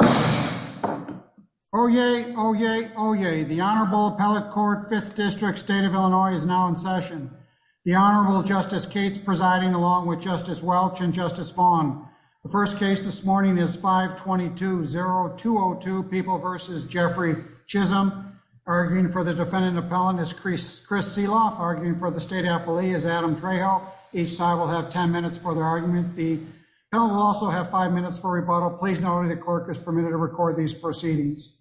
Oh, yay. Oh, yay. Oh, yay. The Honorable Appellate Court Fifth District State of Illinois is now in session. The Honorable Justice Cates presiding along with Justice Welch and Justice Vaughn. The first case this morning is 5 22 0 202 people versus Jeffrey Chisholm, arguing for the defendant. Appellant is Chris. Chris Seeloff, arguing for the state appellee is Adam Trejo. Each side will have 10 minutes for their argument. The bill will also have five minutes for rebuttal. Please know that the clerk is permitted to record these proceedings.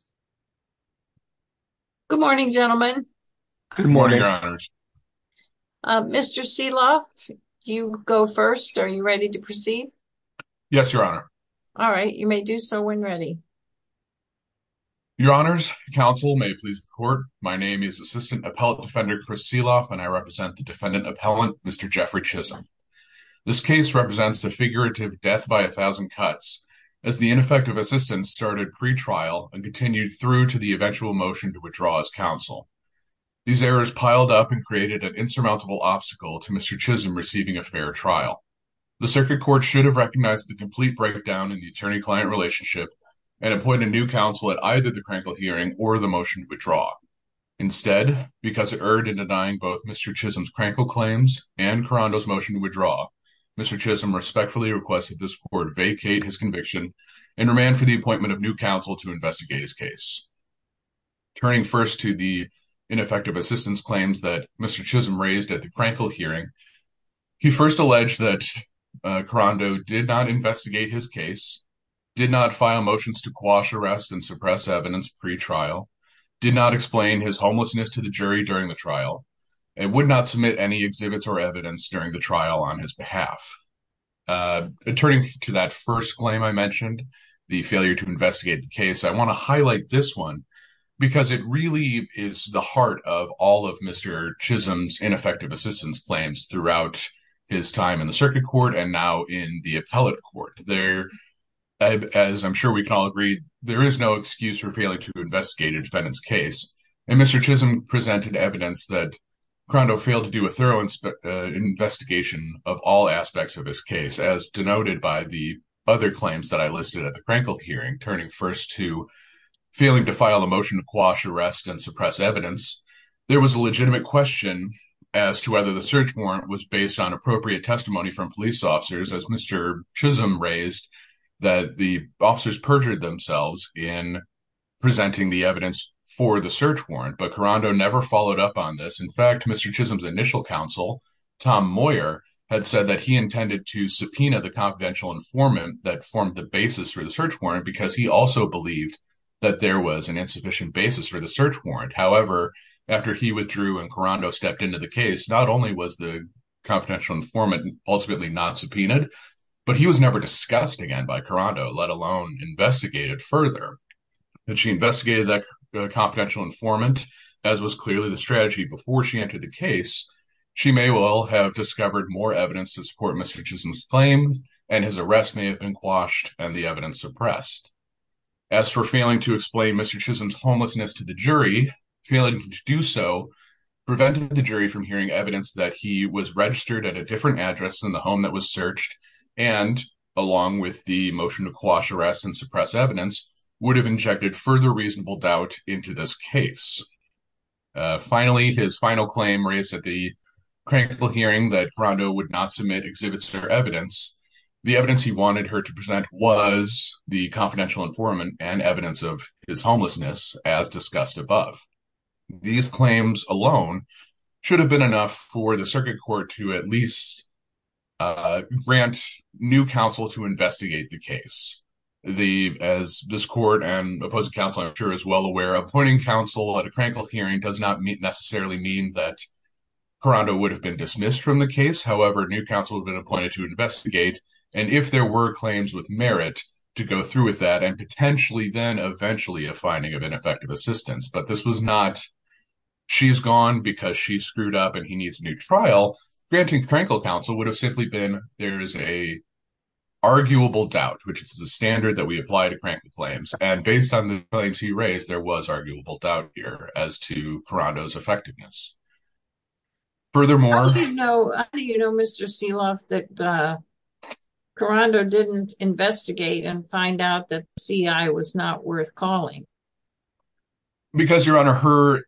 Good morning, gentlemen. Good morning, Your Honors. Mr Seeloff, you go first. Are you ready to proceed? Yes, Your Honor. All right. You may do so when ready. Your Honors, counsel may please the court. My name is Assistant Appellate Defender Chris Seeloff and I represent the defendant appellant, Mr Jeffrey Chisholm. This case represents the figurative death by 1000 cuts as the ineffective assistance started pretrial and continued through to the eventual motion to withdraw his counsel. These errors piled up and created an insurmountable obstacle to Mr Chisholm receiving a fair trial. The circuit court should have recognized the complete breakdown in the attorney client relationship and appoint a new counsel at either the crankle hearing or the motion withdraw. Instead, because it erred in denying both Mr Chisholm's and Karando's motion to withdraw, Mr Chisholm respectfully requested this court vacate his conviction and remand for the appointment of new counsel to investigate his case. Turning first to the ineffective assistance claims that Mr Chisholm raised at the crankle hearing, he first alleged that Karando did not investigate his case, did not file motions to quash arrest and suppress evidence pretrial, did not explain his homelessness to the jury during the trial on his behalf. Uh, turning to that first claim I mentioned, the failure to investigate the case, I want to highlight this one because it really is the heart of all of Mr Chisholm's ineffective assistance claims throughout his time in the circuit court and now in the appellate court there, as I'm sure we can all agree, there is no excuse for failing to investigate a defendant's case. And Mr Chisholm presented evidence that Karando failed to do a thorough investigation of all aspects of this case, as denoted by the other claims that I listed at the crankle hearing, turning first to failing to file a motion to quash arrest and suppress evidence. There was a legitimate question as to whether the search warrant was based on appropriate testimony from police officers, as Mr Chisholm raised that the officers perjured themselves in presenting the evidence for the search warrant. But Mr Chisholm's initial counsel, Tom Moyer, had said that he intended to subpoena the confidential informant that formed the basis for the search warrant because he also believed that there was an insufficient basis for the search warrant. However, after he withdrew and Karando stepped into the case, not only was the confidential informant ultimately not subpoenaed, but he was never discussed again by Karando, let alone investigated further. And she investigated that confidential informant, as was clearly the strategy before she entered the case, she may well have discovered more evidence to support Mr Chisholm's claim, and his arrest may have been quashed and the evidence suppressed. As for failing to explain Mr Chisholm's homelessness to the jury, failing to do so prevented the jury from hearing evidence that he was registered at a different address than the home that was searched and, along with the motion to quash arrest and suppress evidence, would have injected further reasonable doubt into this case. Finally, his final claim raised at the critical hearing that Karando would not submit exhibits or evidence. The evidence he wanted her to present was the confidential informant and evidence of his homelessness, as discussed above. These claims alone should have been enough for the circuit court to at least grant new counsel to investigate the case. I believe, as this court and opposing counsel I'm sure is well aware, appointing counsel at a critical hearing does not necessarily mean that Karando would have been dismissed from the case. However, new counsel had been appointed to investigate, and if there were claims with merit to go through with that, and potentially then eventually a finding of ineffective assistance, but this was not she's gone because she screwed up and he needs a new trial, granting critical counsel would have simply been there's an arguable doubt, which is a standard that we apply to crank the claims, and based on the claims he raised there was arguable doubt here as to Karando's effectiveness. Furthermore, how do you know Mr. Seloff that Karando didn't investigate and find out that CI was not worth calling? Because your honor, her,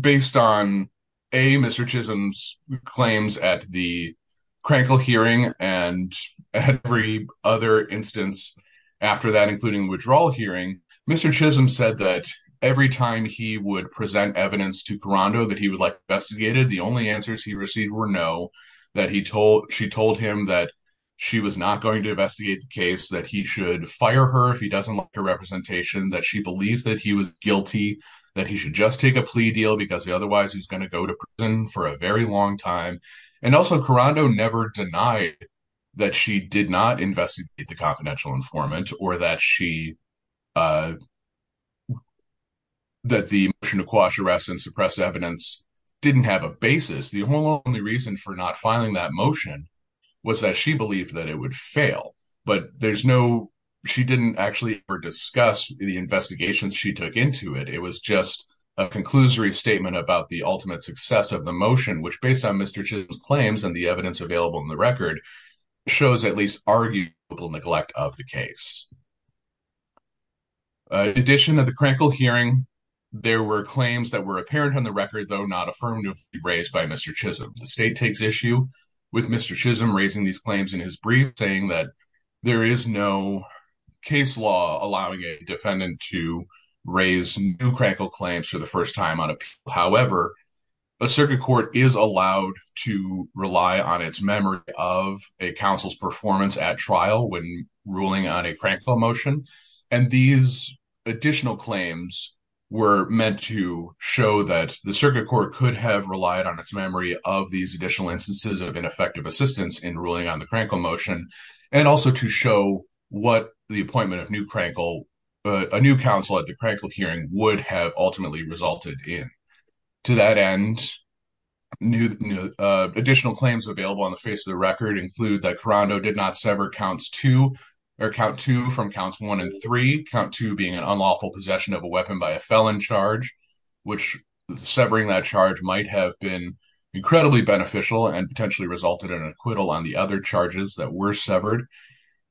based on a Mr. Chisholm's claims at the other instance after that, including withdrawal hearing, Mr. Chisholm said that every time he would present evidence to Karando that he would like investigated, the only answers he received were no, that he told she told him that she was not going to investigate the case, that he should fire her if he doesn't like her representation, that she believes that he was guilty, that he should just take a plea deal because otherwise he's going to go to prison for a very long time, and also Karando never denied that she did not investigate the confidential informant or that she, that the motion to quash arrest and suppress evidence didn't have a basis. The only reason for not filing that motion was that she believed that it would fail, but there's no, she didn't actually ever discuss the investigations she took into it. It was just a conclusory statement about the ultimate success of the motion, which based on Mr. Chisholm's claims and the evidence available in the record, shows at least arguable neglect of the case. In addition of the Krankel hearing, there were claims that were apparent on the record, though not affirmatively raised by Mr. Chisholm. The state takes issue with Mr. Chisholm raising these claims in his brief, saying that there is no case law allowing a defendant to raise new Krankel claims for the first time on appeal. However, a circuit court is allowed to investigate counsel's performance at trial when ruling on a Krankel motion, and these additional claims were meant to show that the circuit court could have relied on its memory of these additional instances of ineffective assistance in ruling on the Krankel motion, and also to show what the appointment of new Krankel, a new counsel at the Krankel hearing, would have ultimately resulted in. To that end, additional claims available on the face of the record include that Karando did not sever counts 2, or count 2 from counts 1 and 3, count 2 being an unlawful possession of a weapon by a felon charge, which severing that charge might have been incredibly beneficial and potentially resulted in an acquittal on the other charges that were severed.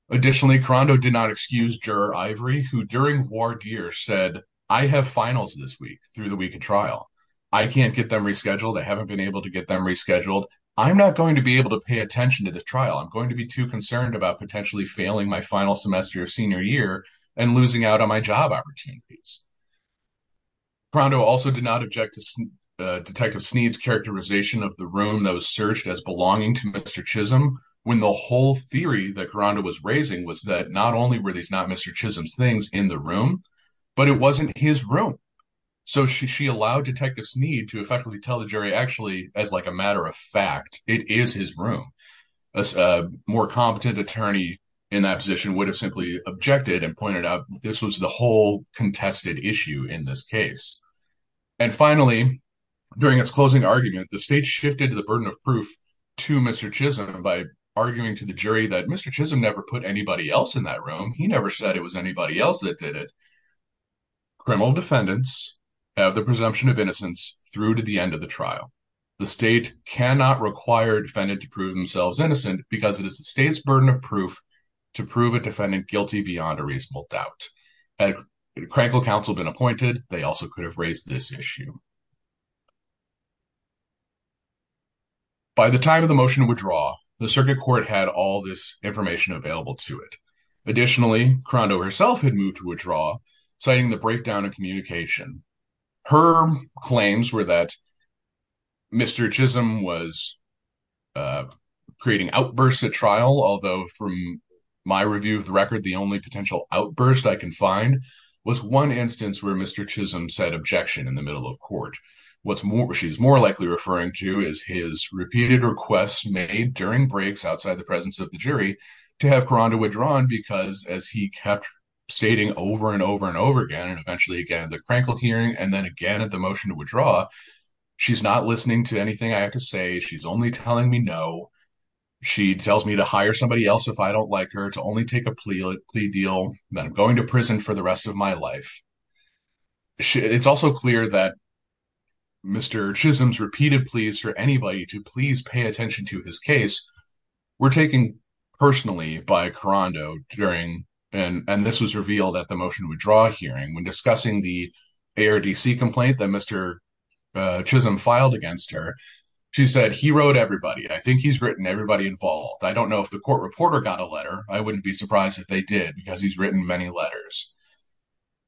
Additionally, Karando did not excuse juror Ivory, who during war gear said, I have finals this week, through the week of trial. I can't get them rescheduled. I haven't been able to get them rescheduled. I'm not going to be able to pay attention to this trial. I'm going to be too concerned about potentially failing my final semester of senior year and losing out on my job opportunities. Karando also did not object to Detective Sneed's characterization of the room that was searched as belonging to Mr. Chisholm, when the whole theory that Karando was raising was that not only were these not Mr. Chisholm's things in the room, but it wasn't his room. So she allowed Detective Sneed to effectively tell the jury actually, as like a matter of fact, it is his room. A more competent attorney in that position would have simply objected and pointed out this was the whole contested issue in this case. And finally, during its closing argument, the state shifted the burden of proof to Mr. Chisholm by arguing to the jury that Mr. Chisholm never put anybody else in that room. He never said it was anybody else that did it. Criminal defendants have the presumption of innocence through to the end of the trial. The state cannot require a defendant to prove themselves innocent because it is the state's burden of proof to prove a defendant guilty beyond a reasonable doubt. Had a critical counsel been appointed, they also could have raised this issue. By the time of the motion to withdraw, the circuit court had all this information available to it. Additionally, Karando herself had moved to withdraw, citing the Mr. Chisholm was creating outbursts at trial, although from my review of the record, the only potential outburst I can find was one instance where Mr. Chisholm said objection in the middle of court. What she's more likely referring to is his repeated requests made during breaks outside the presence of the jury to have Karando withdrawn because as he kept stating over and over and over again and eventually again at the Krankl hearing and then again at the motion to withdraw, she's not listening to anything I have to say. She's only telling me no. She tells me to hire somebody else if I don't like her, to only take a plea deal, that I'm going to prison for the rest of my life. It's also clear that Mr. Chisholm's repeated pleas for anybody to please pay attention to his case were taken personally by Karando during, and this was revealed at the motion to withdraw hearing when discussing the ARDC complaint that Mr. Chisholm filed against her. She said he wrote everybody. I think he's written everybody involved. I don't know if the court reporter got a letter. I wouldn't be surprised if they did because he's written many letters.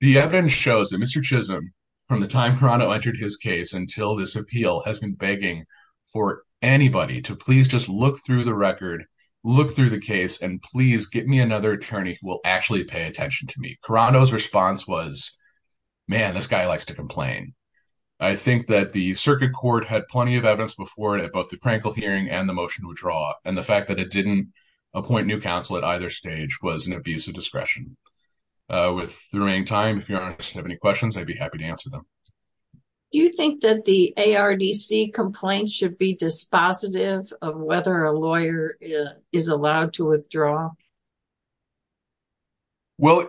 The evidence shows that Mr. Chisholm, from the time Karando entered his case until this appeal, has been begging for anybody to please just look through the record, look through the case, and please get me another attorney who will actually pay attention to me. Karando's response was, man, this guy likes to complain. I think that the circuit court had plenty of evidence before it at both the Krankel hearing and the motion to withdraw, and the fact that it didn't appoint new counsel at either stage was an abuse of discretion. With the remaining time, if you have any questions, I'd be happy to answer them. Do you think that the ARDC complaint should be dispositive of whether a lawyer is allowed to withdraw? Well,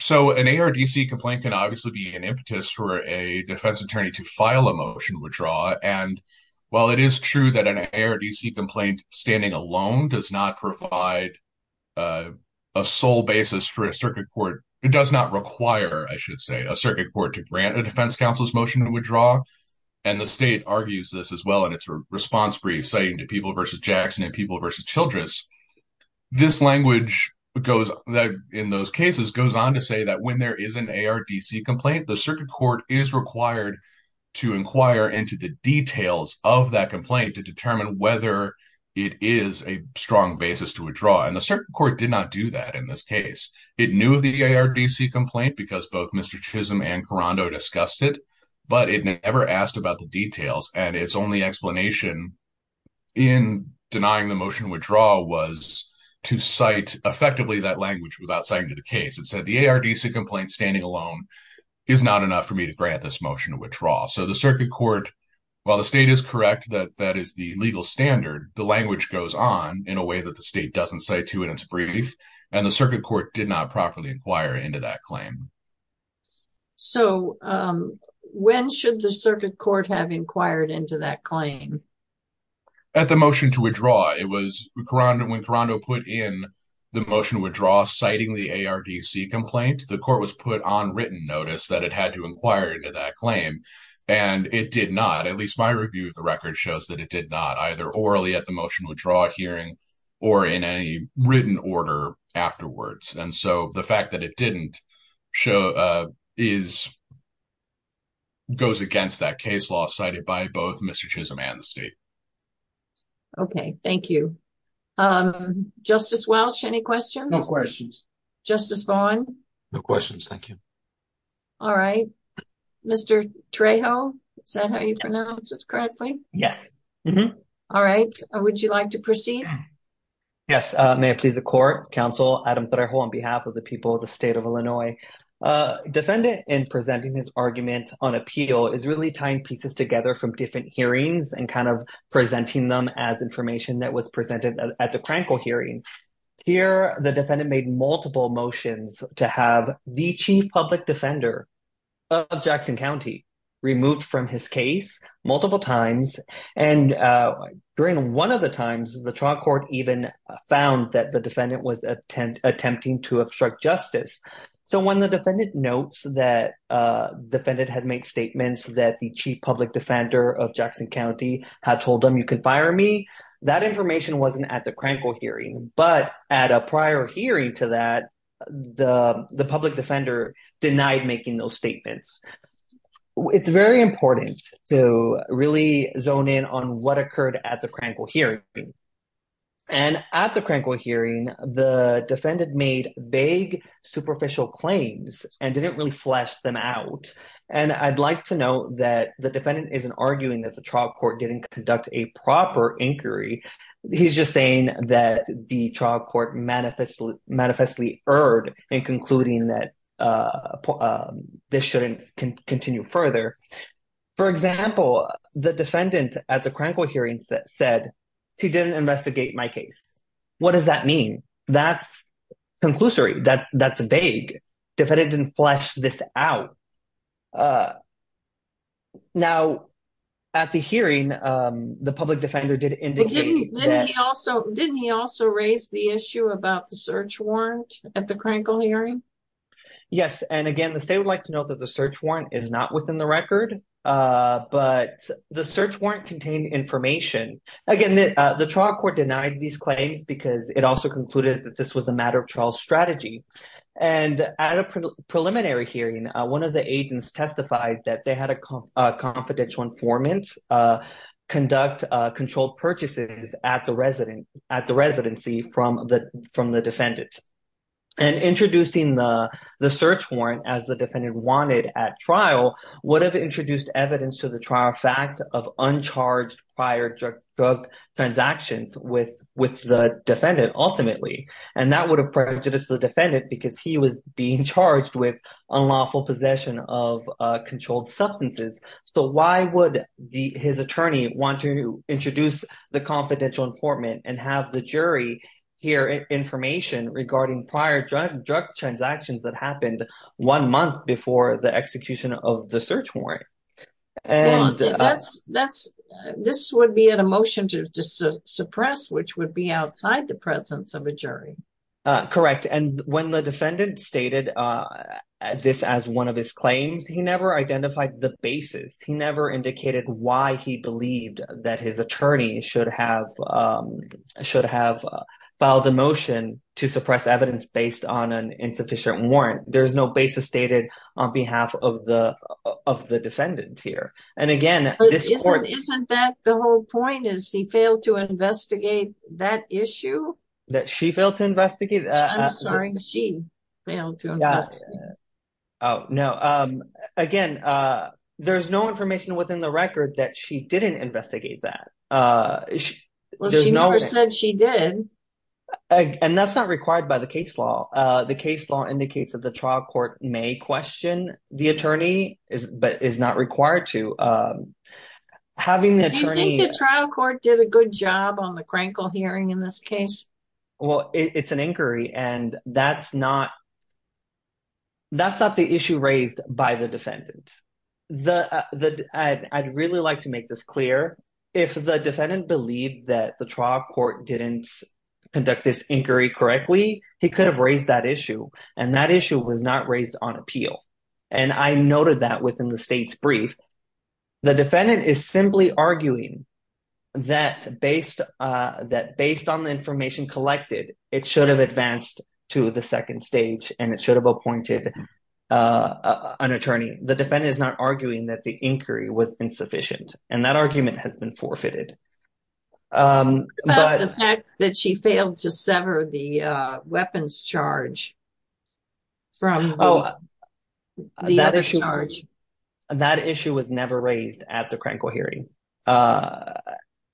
so an ARDC complaint can obviously be an impetus for a defense attorney to file a motion to withdraw, and while it is true that an ARDC complaint standing alone does not provide a sole basis for a circuit court, it does not require, I should say, a circuit court to grant a defense counsel's motion to withdraw, and the state argues this as well in its response brief citing to People v. Jackson and People v. Childress. This language goes, in those cases, goes on to say that when there is an ARDC complaint, the circuit court is required to inquire into the details of that complaint to determine whether it is a strong basis to withdraw, and the circuit court did not do that in this case. It knew of the ARDC complaint because both Mr. Chisholm and Karando discussed it, but it never asked about the details, and its only explanation in denying the motion to withdraw was to cite effectively that language without citing to the case. It said the ARDC complaint standing alone is not enough for me to grant this motion to withdraw, so the circuit court, while the state is correct that that is the legal standard, the language goes on in a way that the state doesn't say to in its brief, and the circuit court did not properly inquire into that claim. So, when should the circuit court have inquired into that claim? At the motion to withdraw, it was when Karando put in the motion to withdraw citing the ARDC complaint, the court was put on written notice that it had to inquire into that claim, and it did not, at least my review of the record shows that it did not, either orally at the motion to withdraw hearing, or in any written order afterwards, and so the fact that it didn't goes against that case law cited by both Mr. Chisholm and the state. Okay, thank you. Justice Welch, any questions? No questions. Justice Vaughn? No questions, thank you. All right, Mr. Trejo, is that how you pronounce it correctly? Yes. All right, would you like to proceed? Yes, may it please the court, counsel Adam Trejo on behalf of the people of the state of Illinois. Defendant in presenting his argument on appeal is really tying pieces together from different hearings and kind of presenting them as information that was presented at the Krankle hearing. Here, the defendant made multiple motions to have the chief public defender of Jackson County removed from his case multiple times, and during one of the times, the trial court even found that the defendant was attempting to obstruct justice, so when the defendant notes that defendant had made statements that the chief public defender of Jackson County had told them you could fire me, that information wasn't at the Krankle hearing, but at a prior hearing to that, the public defender denied making those statements. It's very important to really zone in on what occurred at the Krankle hearing, and at the Krankle hearing, the defendant made vague superficial claims and didn't really flesh them out, and I'd like to note that the defendant isn't arguing that the trial court didn't conduct a proper inquiry. He's just saying that the trial court manifestly erred in concluding that this shouldn't continue further. For example, the defendant at the Krankle hearing said, he didn't investigate my case. What does that mean? That's vague. The defendant didn't flesh this out. Now, at the hearing, the public defender did indicate Didn't he also raise the issue about the search warrant at the Krankle hearing? Yes, and again, the state would like to note that the search warrant is not within the record, but the search warrant contained information. Again, the trial court denied these claims because it also concluded that this was a matter of trial strategy, and at a preliminary hearing, one of the agents testified that they had a confidential informant conduct controlled purchases at the residency from the defendant, and introducing the search warrant as the defendant wanted at trial would have introduced evidence to the trial fact of uncharged prior drug transactions with the defendant ultimately. That would have prejudiced the defendant because he was being charged with unlawful possession of controlled substances. Why would his attorney want to introduce the confidential informant and have the jury hear information regarding prior drug transactions that happened one month before the execution of the search warrant? And that's that's this would be an emotion to suppress, which would be outside the presence of a jury. Correct. And when the defendant stated this as one of his claims, he never identified the basis. He never indicated why he believed that his attorney should have filed a motion to suppress evidence based on an insufficient warrant. There is no basis stated on behalf of the defendant here. And again, isn't that the whole point? Is he failed to investigate that issue? That she failed to investigate? I'm sorry, she failed to. Oh, no. Again, there's no information within the record that she didn't investigate that. Well, she never said she did. And that's not required by the case law. The case law indicates that the trial court may question the attorney is but is not required to. Having the attorney trial court did a good job on the crankle hearing in this case. Well, it's an inquiry. And that's not that's not the issue raised by the defendant. The the I'd really like to make this clear. If the defendant believed that the trial court didn't conduct this inquiry correctly, he could have raised that issue. And that issue was not raised on appeal. And I noted that within the state's brief. The defendant is simply arguing that based that based on the information collected, it should have advanced to the second stage, and it should have appointed an attorney. The defendant is not arguing that the inquiry was insufficient. And that argument has been forfeited. But the fact that she failed to sever the weapons charge from the other charge, that issue was never raised at the crankle hearing.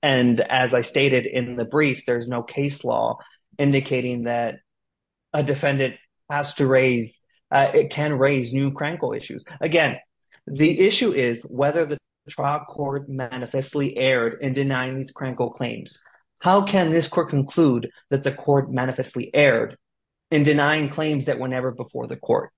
And as I stated in the brief, there's no case law indicating that a defendant has to raise, it can raise new crankle issues. Again, the issue is whether the trial court manifestly erred in denying these crankle claims. How can this court conclude that the court manifestly erred in denying claims that whenever before the court,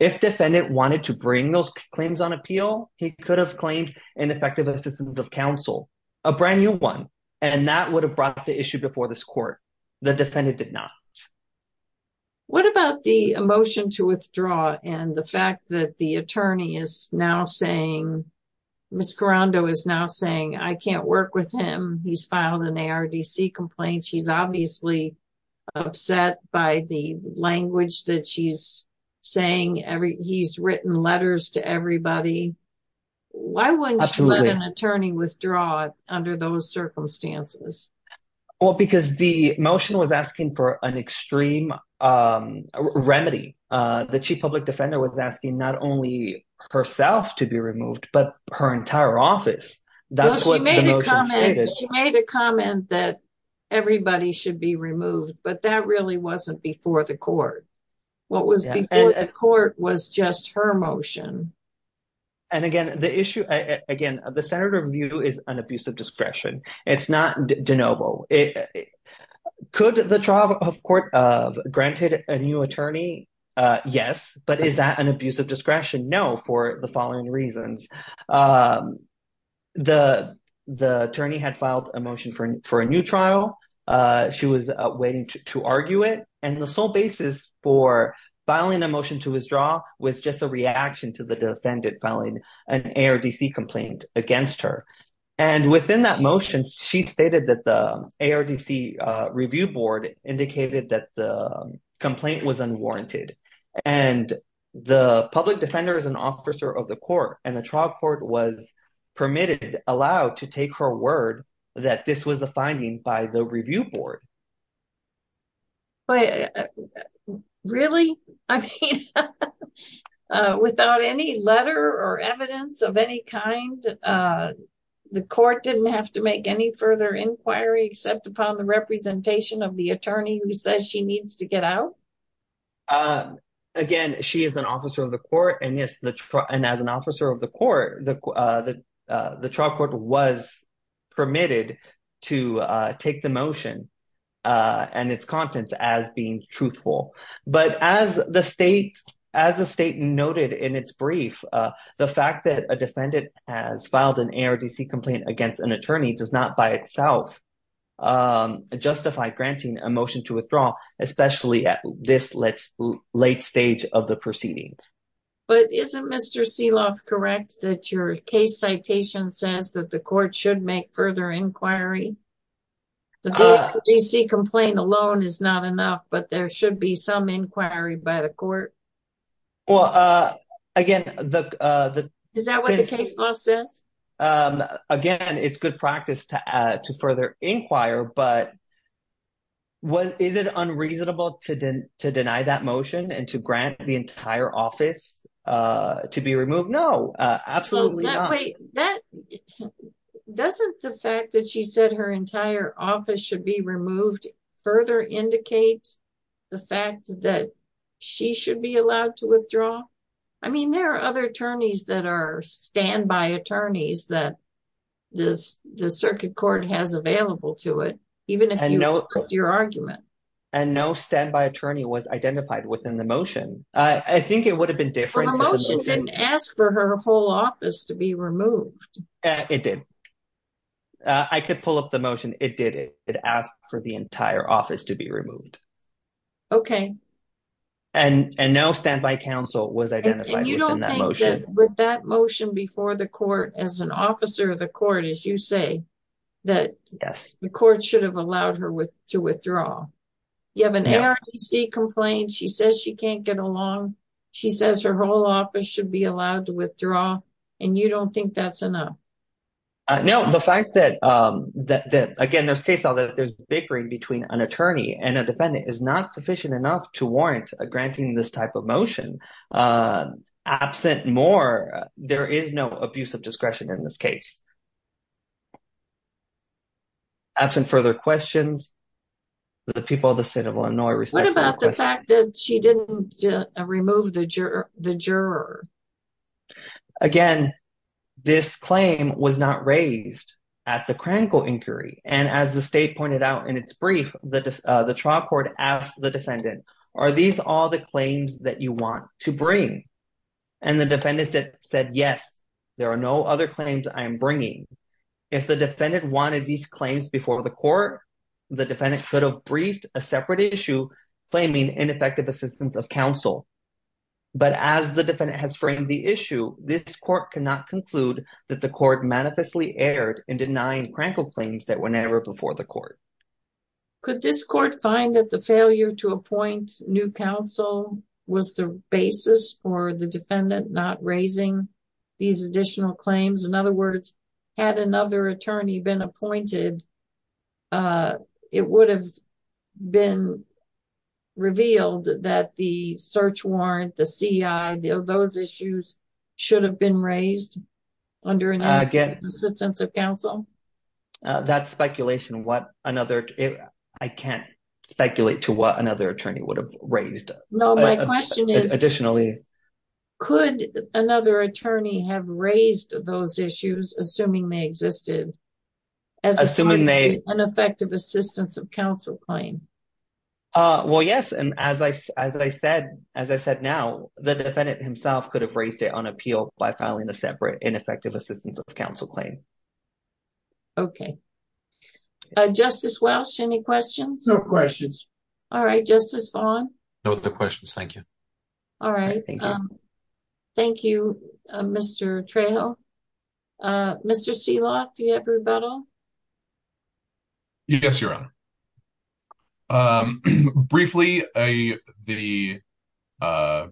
if defendant wanted to bring those claims on appeal, he could have claimed an effective assistance of counsel, a brand new one. And that would have brought the issue before this court, the defendant did not. What about the emotion to withdraw and the fact that the attorney is now saying, Mr. Rondo is now saying, I can't work with him. He's filed an ARDC complaint. She's obviously upset by the language that she's saying every he's written letters to everybody. Why wouldn't an attorney withdraw under those circumstances? Well, because the motion was asking for an extreme um, remedy, uh, the chief public defender was asking not only herself to be removed, but her entire office. She made a comment that everybody should be removed, but that really wasn't before the court. What was before the court was just her motion. And again, the issue, again, the Senator view is an abuse of discretion. It's not DeNovo. It could the trial of court of granted a new attorney. Yes. But is that an abuse of discretion? No. For the following reasons, um, the, the attorney had filed a motion for, for a new trial. Uh, she was waiting to argue it. And the sole basis for filing a motion to withdraw was just a reaction to the defendant filing an ARDC complaint against her. And within that motion, she stated that the ARDC, uh, review board indicated that the complaint was unwarranted and the public defenders and officer of the court and the trial court was permitted, allowed to take her word that this was the finding by the review board. Really? I mean, uh, without any letter or evidence of any kind, uh, the court didn't have to make any further inquiry, except upon the representation of the attorney who says she needs to get out. Um, again, she is an officer of the court and yes, the, and as an officer of the court, the, uh, the, uh, the trial court was permitted to, uh, take the motion, uh, and its contents as being truthful. But as the state, as the state noted in its brief, uh, the fact that a defendant has an ARDC complaint against an attorney does not by itself, um, justify granting a motion to withdraw, especially at this late stage of the proceedings. But isn't Mr. Sealoff correct that your case citation says that the court should make further inquiry? The ARDC complaint alone is not enough, but there should be some inquiry by the court. Well, uh, again, the, uh, the. Is that what the case law says? Um, again, it's good practice to, uh, to further inquire, but what is it unreasonable to deny that motion and to grant the entire office, uh, to be removed? No, absolutely not. Wait, that doesn't the fact that she said her entire office should be removed further indicates the fact that she should be allowed to withdraw. I mean, there are other attorneys that are standby attorneys that this, the circuit court has available to it, even if you know your argument and no standby attorney was identified within the motion. I think it would have been different. The motion didn't ask for her whole office to be removed. It did. I could pull up the motion. It did it. It asked for the entire office to be removed. Okay. And, and now standby council was identified. With that motion before the court as an officer of the court, as you say, that the court should have allowed her with to withdraw. You have an ARDC complaint. She says she can't get along. She says her whole office should be allowed to withdraw. And you don't think that's enough. Uh, no, the fact that, um, that, that again, there's case although there's bickering between an attorney and a defendant is not sufficient enough to warrant a granting this type of motion, uh, absent more, there is no abuse of discretion in this case. Absent further questions, the people of the state of Illinois, she didn't remove the juror, the juror. Again, this claim was not raised at the in its brief. The, uh, the trial court asked the defendant, are these all the claims that you want to bring? And the defendants said, yes, there are no other claims I'm bringing. If the defendant wanted these claims before the court, the defendant could have briefed a separate issue claiming ineffective assistance of council. But as the defendant has framed the issue, this court cannot conclude that the court manifestly erred in denying claims that were never before the court. Could this court find that the failure to appoint new counsel was the basis for the defendant not raising these additional claims? In other words, had another attorney been appointed, uh, it would have been revealed that the search warrant, the CI, those issues should have been raised under an assistance of counsel. That's speculation. What another, I can't speculate to what another attorney would have raised. No, my question is additionally, could another attorney have raised those issues, assuming they existed as an effective assistance of counsel claim? Uh, well, yes. And as I, as I said, as I said, now the defendant himself could have raised it on appeal by filing a separate ineffective assistance of counsel claim. Okay. Uh, Justice Welch, any questions? No questions. All right. Justice Vaughn. No other questions. Thank you. All right. Thank you. Um, thank you, uh, Mr. Trejo. Uh, Mr. Sealoft, do you have rebuttal? Yes, Your Honor. Um, briefly, I, the, uh,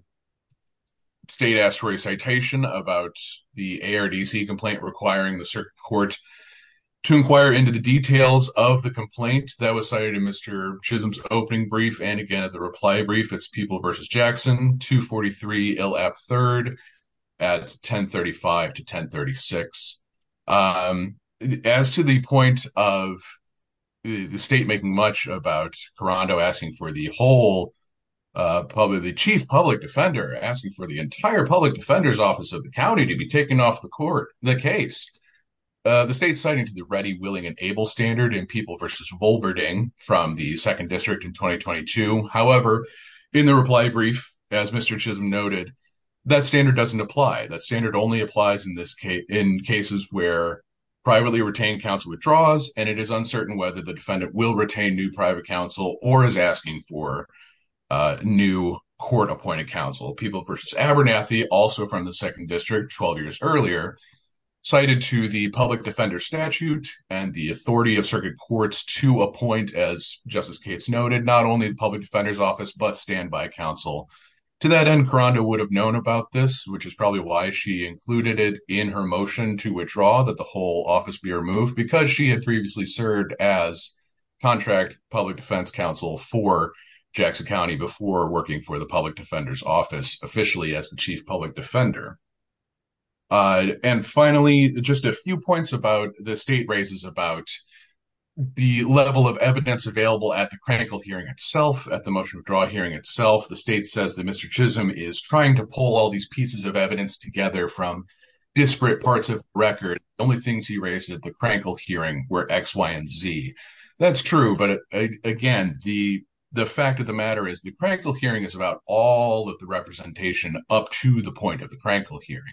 state asked for a citation about the ARDC complaint requiring the circuit court to inquire into the details of the complaint that was cited in Mr. Chisholm's opening brief. And again, at the reply brief, it's people versus Jackson, 243 LF third at 1035 to 1036. Um, as to the point of the state making much about Karando asking for the whole, uh, probably the chief public defender asking for the entire public defender's office of the county to be taken off the court, the case, uh, the state citing to the ready, willing, and able standard and people versus Volberding from the second Mr. Chisholm noted that standard doesn't apply. That standard only applies in this case in cases where privately retained counsel withdraws. And it is uncertain whether the defendant will retain new private counsel or is asking for a new court appointed counsel people versus Abernathy, also from the second district 12 years earlier cited to the public defender statute and the authority of circuit courts to appoint as justice case noted, not only the public defender's office, but standby counsel to that end Karando would have known about this, which is probably why she included it in her motion to withdraw that the whole office be removed because she had previously served as contract public defense counsel for Jackson County before working for the public defender's office officially as the chief public defender. Uh, and finally, just a few points about the state raises about the level of evidence available at the critical hearing itself at the motion of draw hearing itself. The state says that Mr. Chisholm is trying to pull all these pieces of evidence together from disparate parts of record. The only things he raised at the crankle hearing were X, Y, and Z. That's true. But again, the, the fact of the matter is the practical hearing is about all of the representation up to the point of the crankle hearing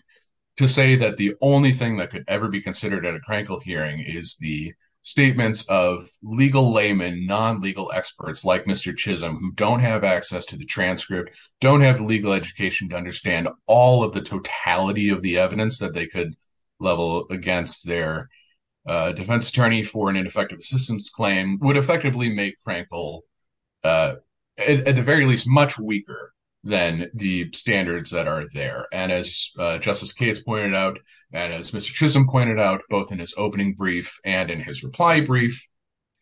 to say that the only thing that could ever be considered at a crankle hearing is the statements of legal layman, non-legal experts like Mr. Chisholm who don't have access to the transcript, don't have the legal education to understand all of the totality of the evidence that they could level against their, uh, defense attorney for an ineffective assistance claim would effectively make crankle, uh, at the very least much weaker than the standards that are there. And as a justice case pointed out, and as Mr. Chisholm pointed out, both in his opening brief and in his reply brief,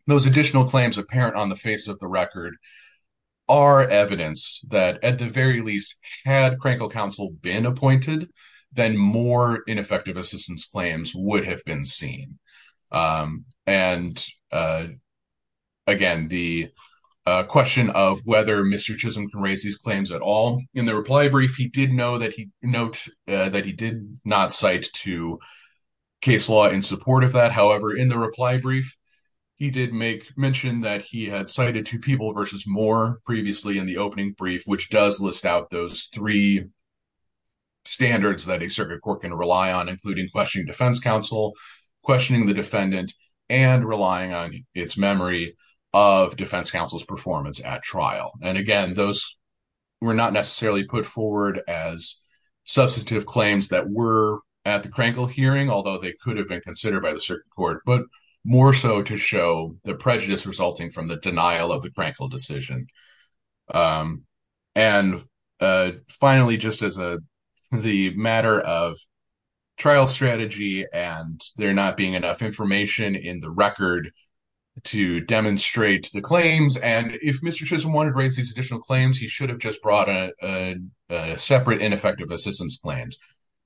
those additional claims apparent on the face of the record are evidence that at the very least had crankle counsel been appointed, then more ineffective assistance claims would have been seen. Um, and, uh, again, the, uh, question of whether Mr. Chisholm can raise these claims at all in the reply brief, he did know that he note, uh, that he did not cite to case law in support of that. However, in the reply brief, he did make mention that he had cited two people versus more previously in the opening brief, which does list out those three standards that a circuit court can rely on, including questioning defense counsel, questioning the defendant and relying on its memory of defense counsel's performance at trial. And again, those were not necessarily put forward as substantive claims that were at the crankle hearing, although they could have been considered by the circuit court, but more so to show the prejudice resulting from the denial of the crankle decision. Um, and, uh, finally, just as a, the matter of trial strategy and there not being enough information in the record to demonstrate the claims. And if Mr. Chisholm wanted to raise these additional claims, he should have just brought a, uh, a separate ineffective assistance claims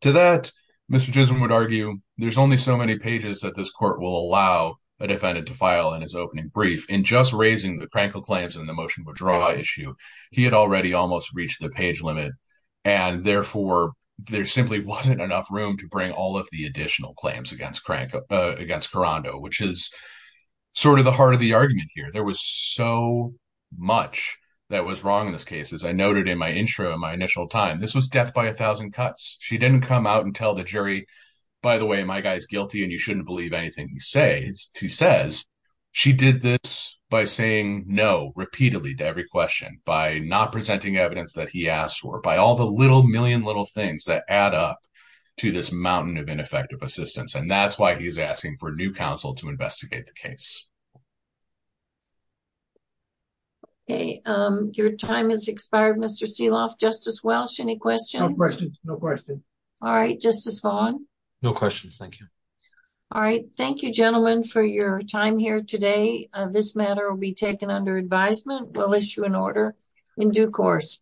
to that Mr. Chisholm would argue. There's only so many pages that this court will allow a defendant to file in his opening brief in just raising the crankle claims and the motion would draw issue. He had already almost reached the page limit and therefore there simply wasn't enough room to bring all of the additional claims against Karando, which is sort of the heart of the argument here. There was so much that was wrong in this case. As I noted in my intro, in my initial time, this was death by a thousand cuts. She didn't come out and tell the jury, by the way, my guy's guilty and you shouldn't believe anything he says. She says she did this by saying no repeatedly to every question by not presenting evidence that he asked for by all the little million little things that add up to this that's why he's asking for a new counsel to investigate the case. Okay. Um, your time is expired. Mr. Seeloff, Justice Welsh, any questions? No questions. No questions. All right. Justice Vaughn. No questions. Thank you. All right. Thank you gentlemen for your time here today. This matter will be taken under advisement. We'll issue an order in due course.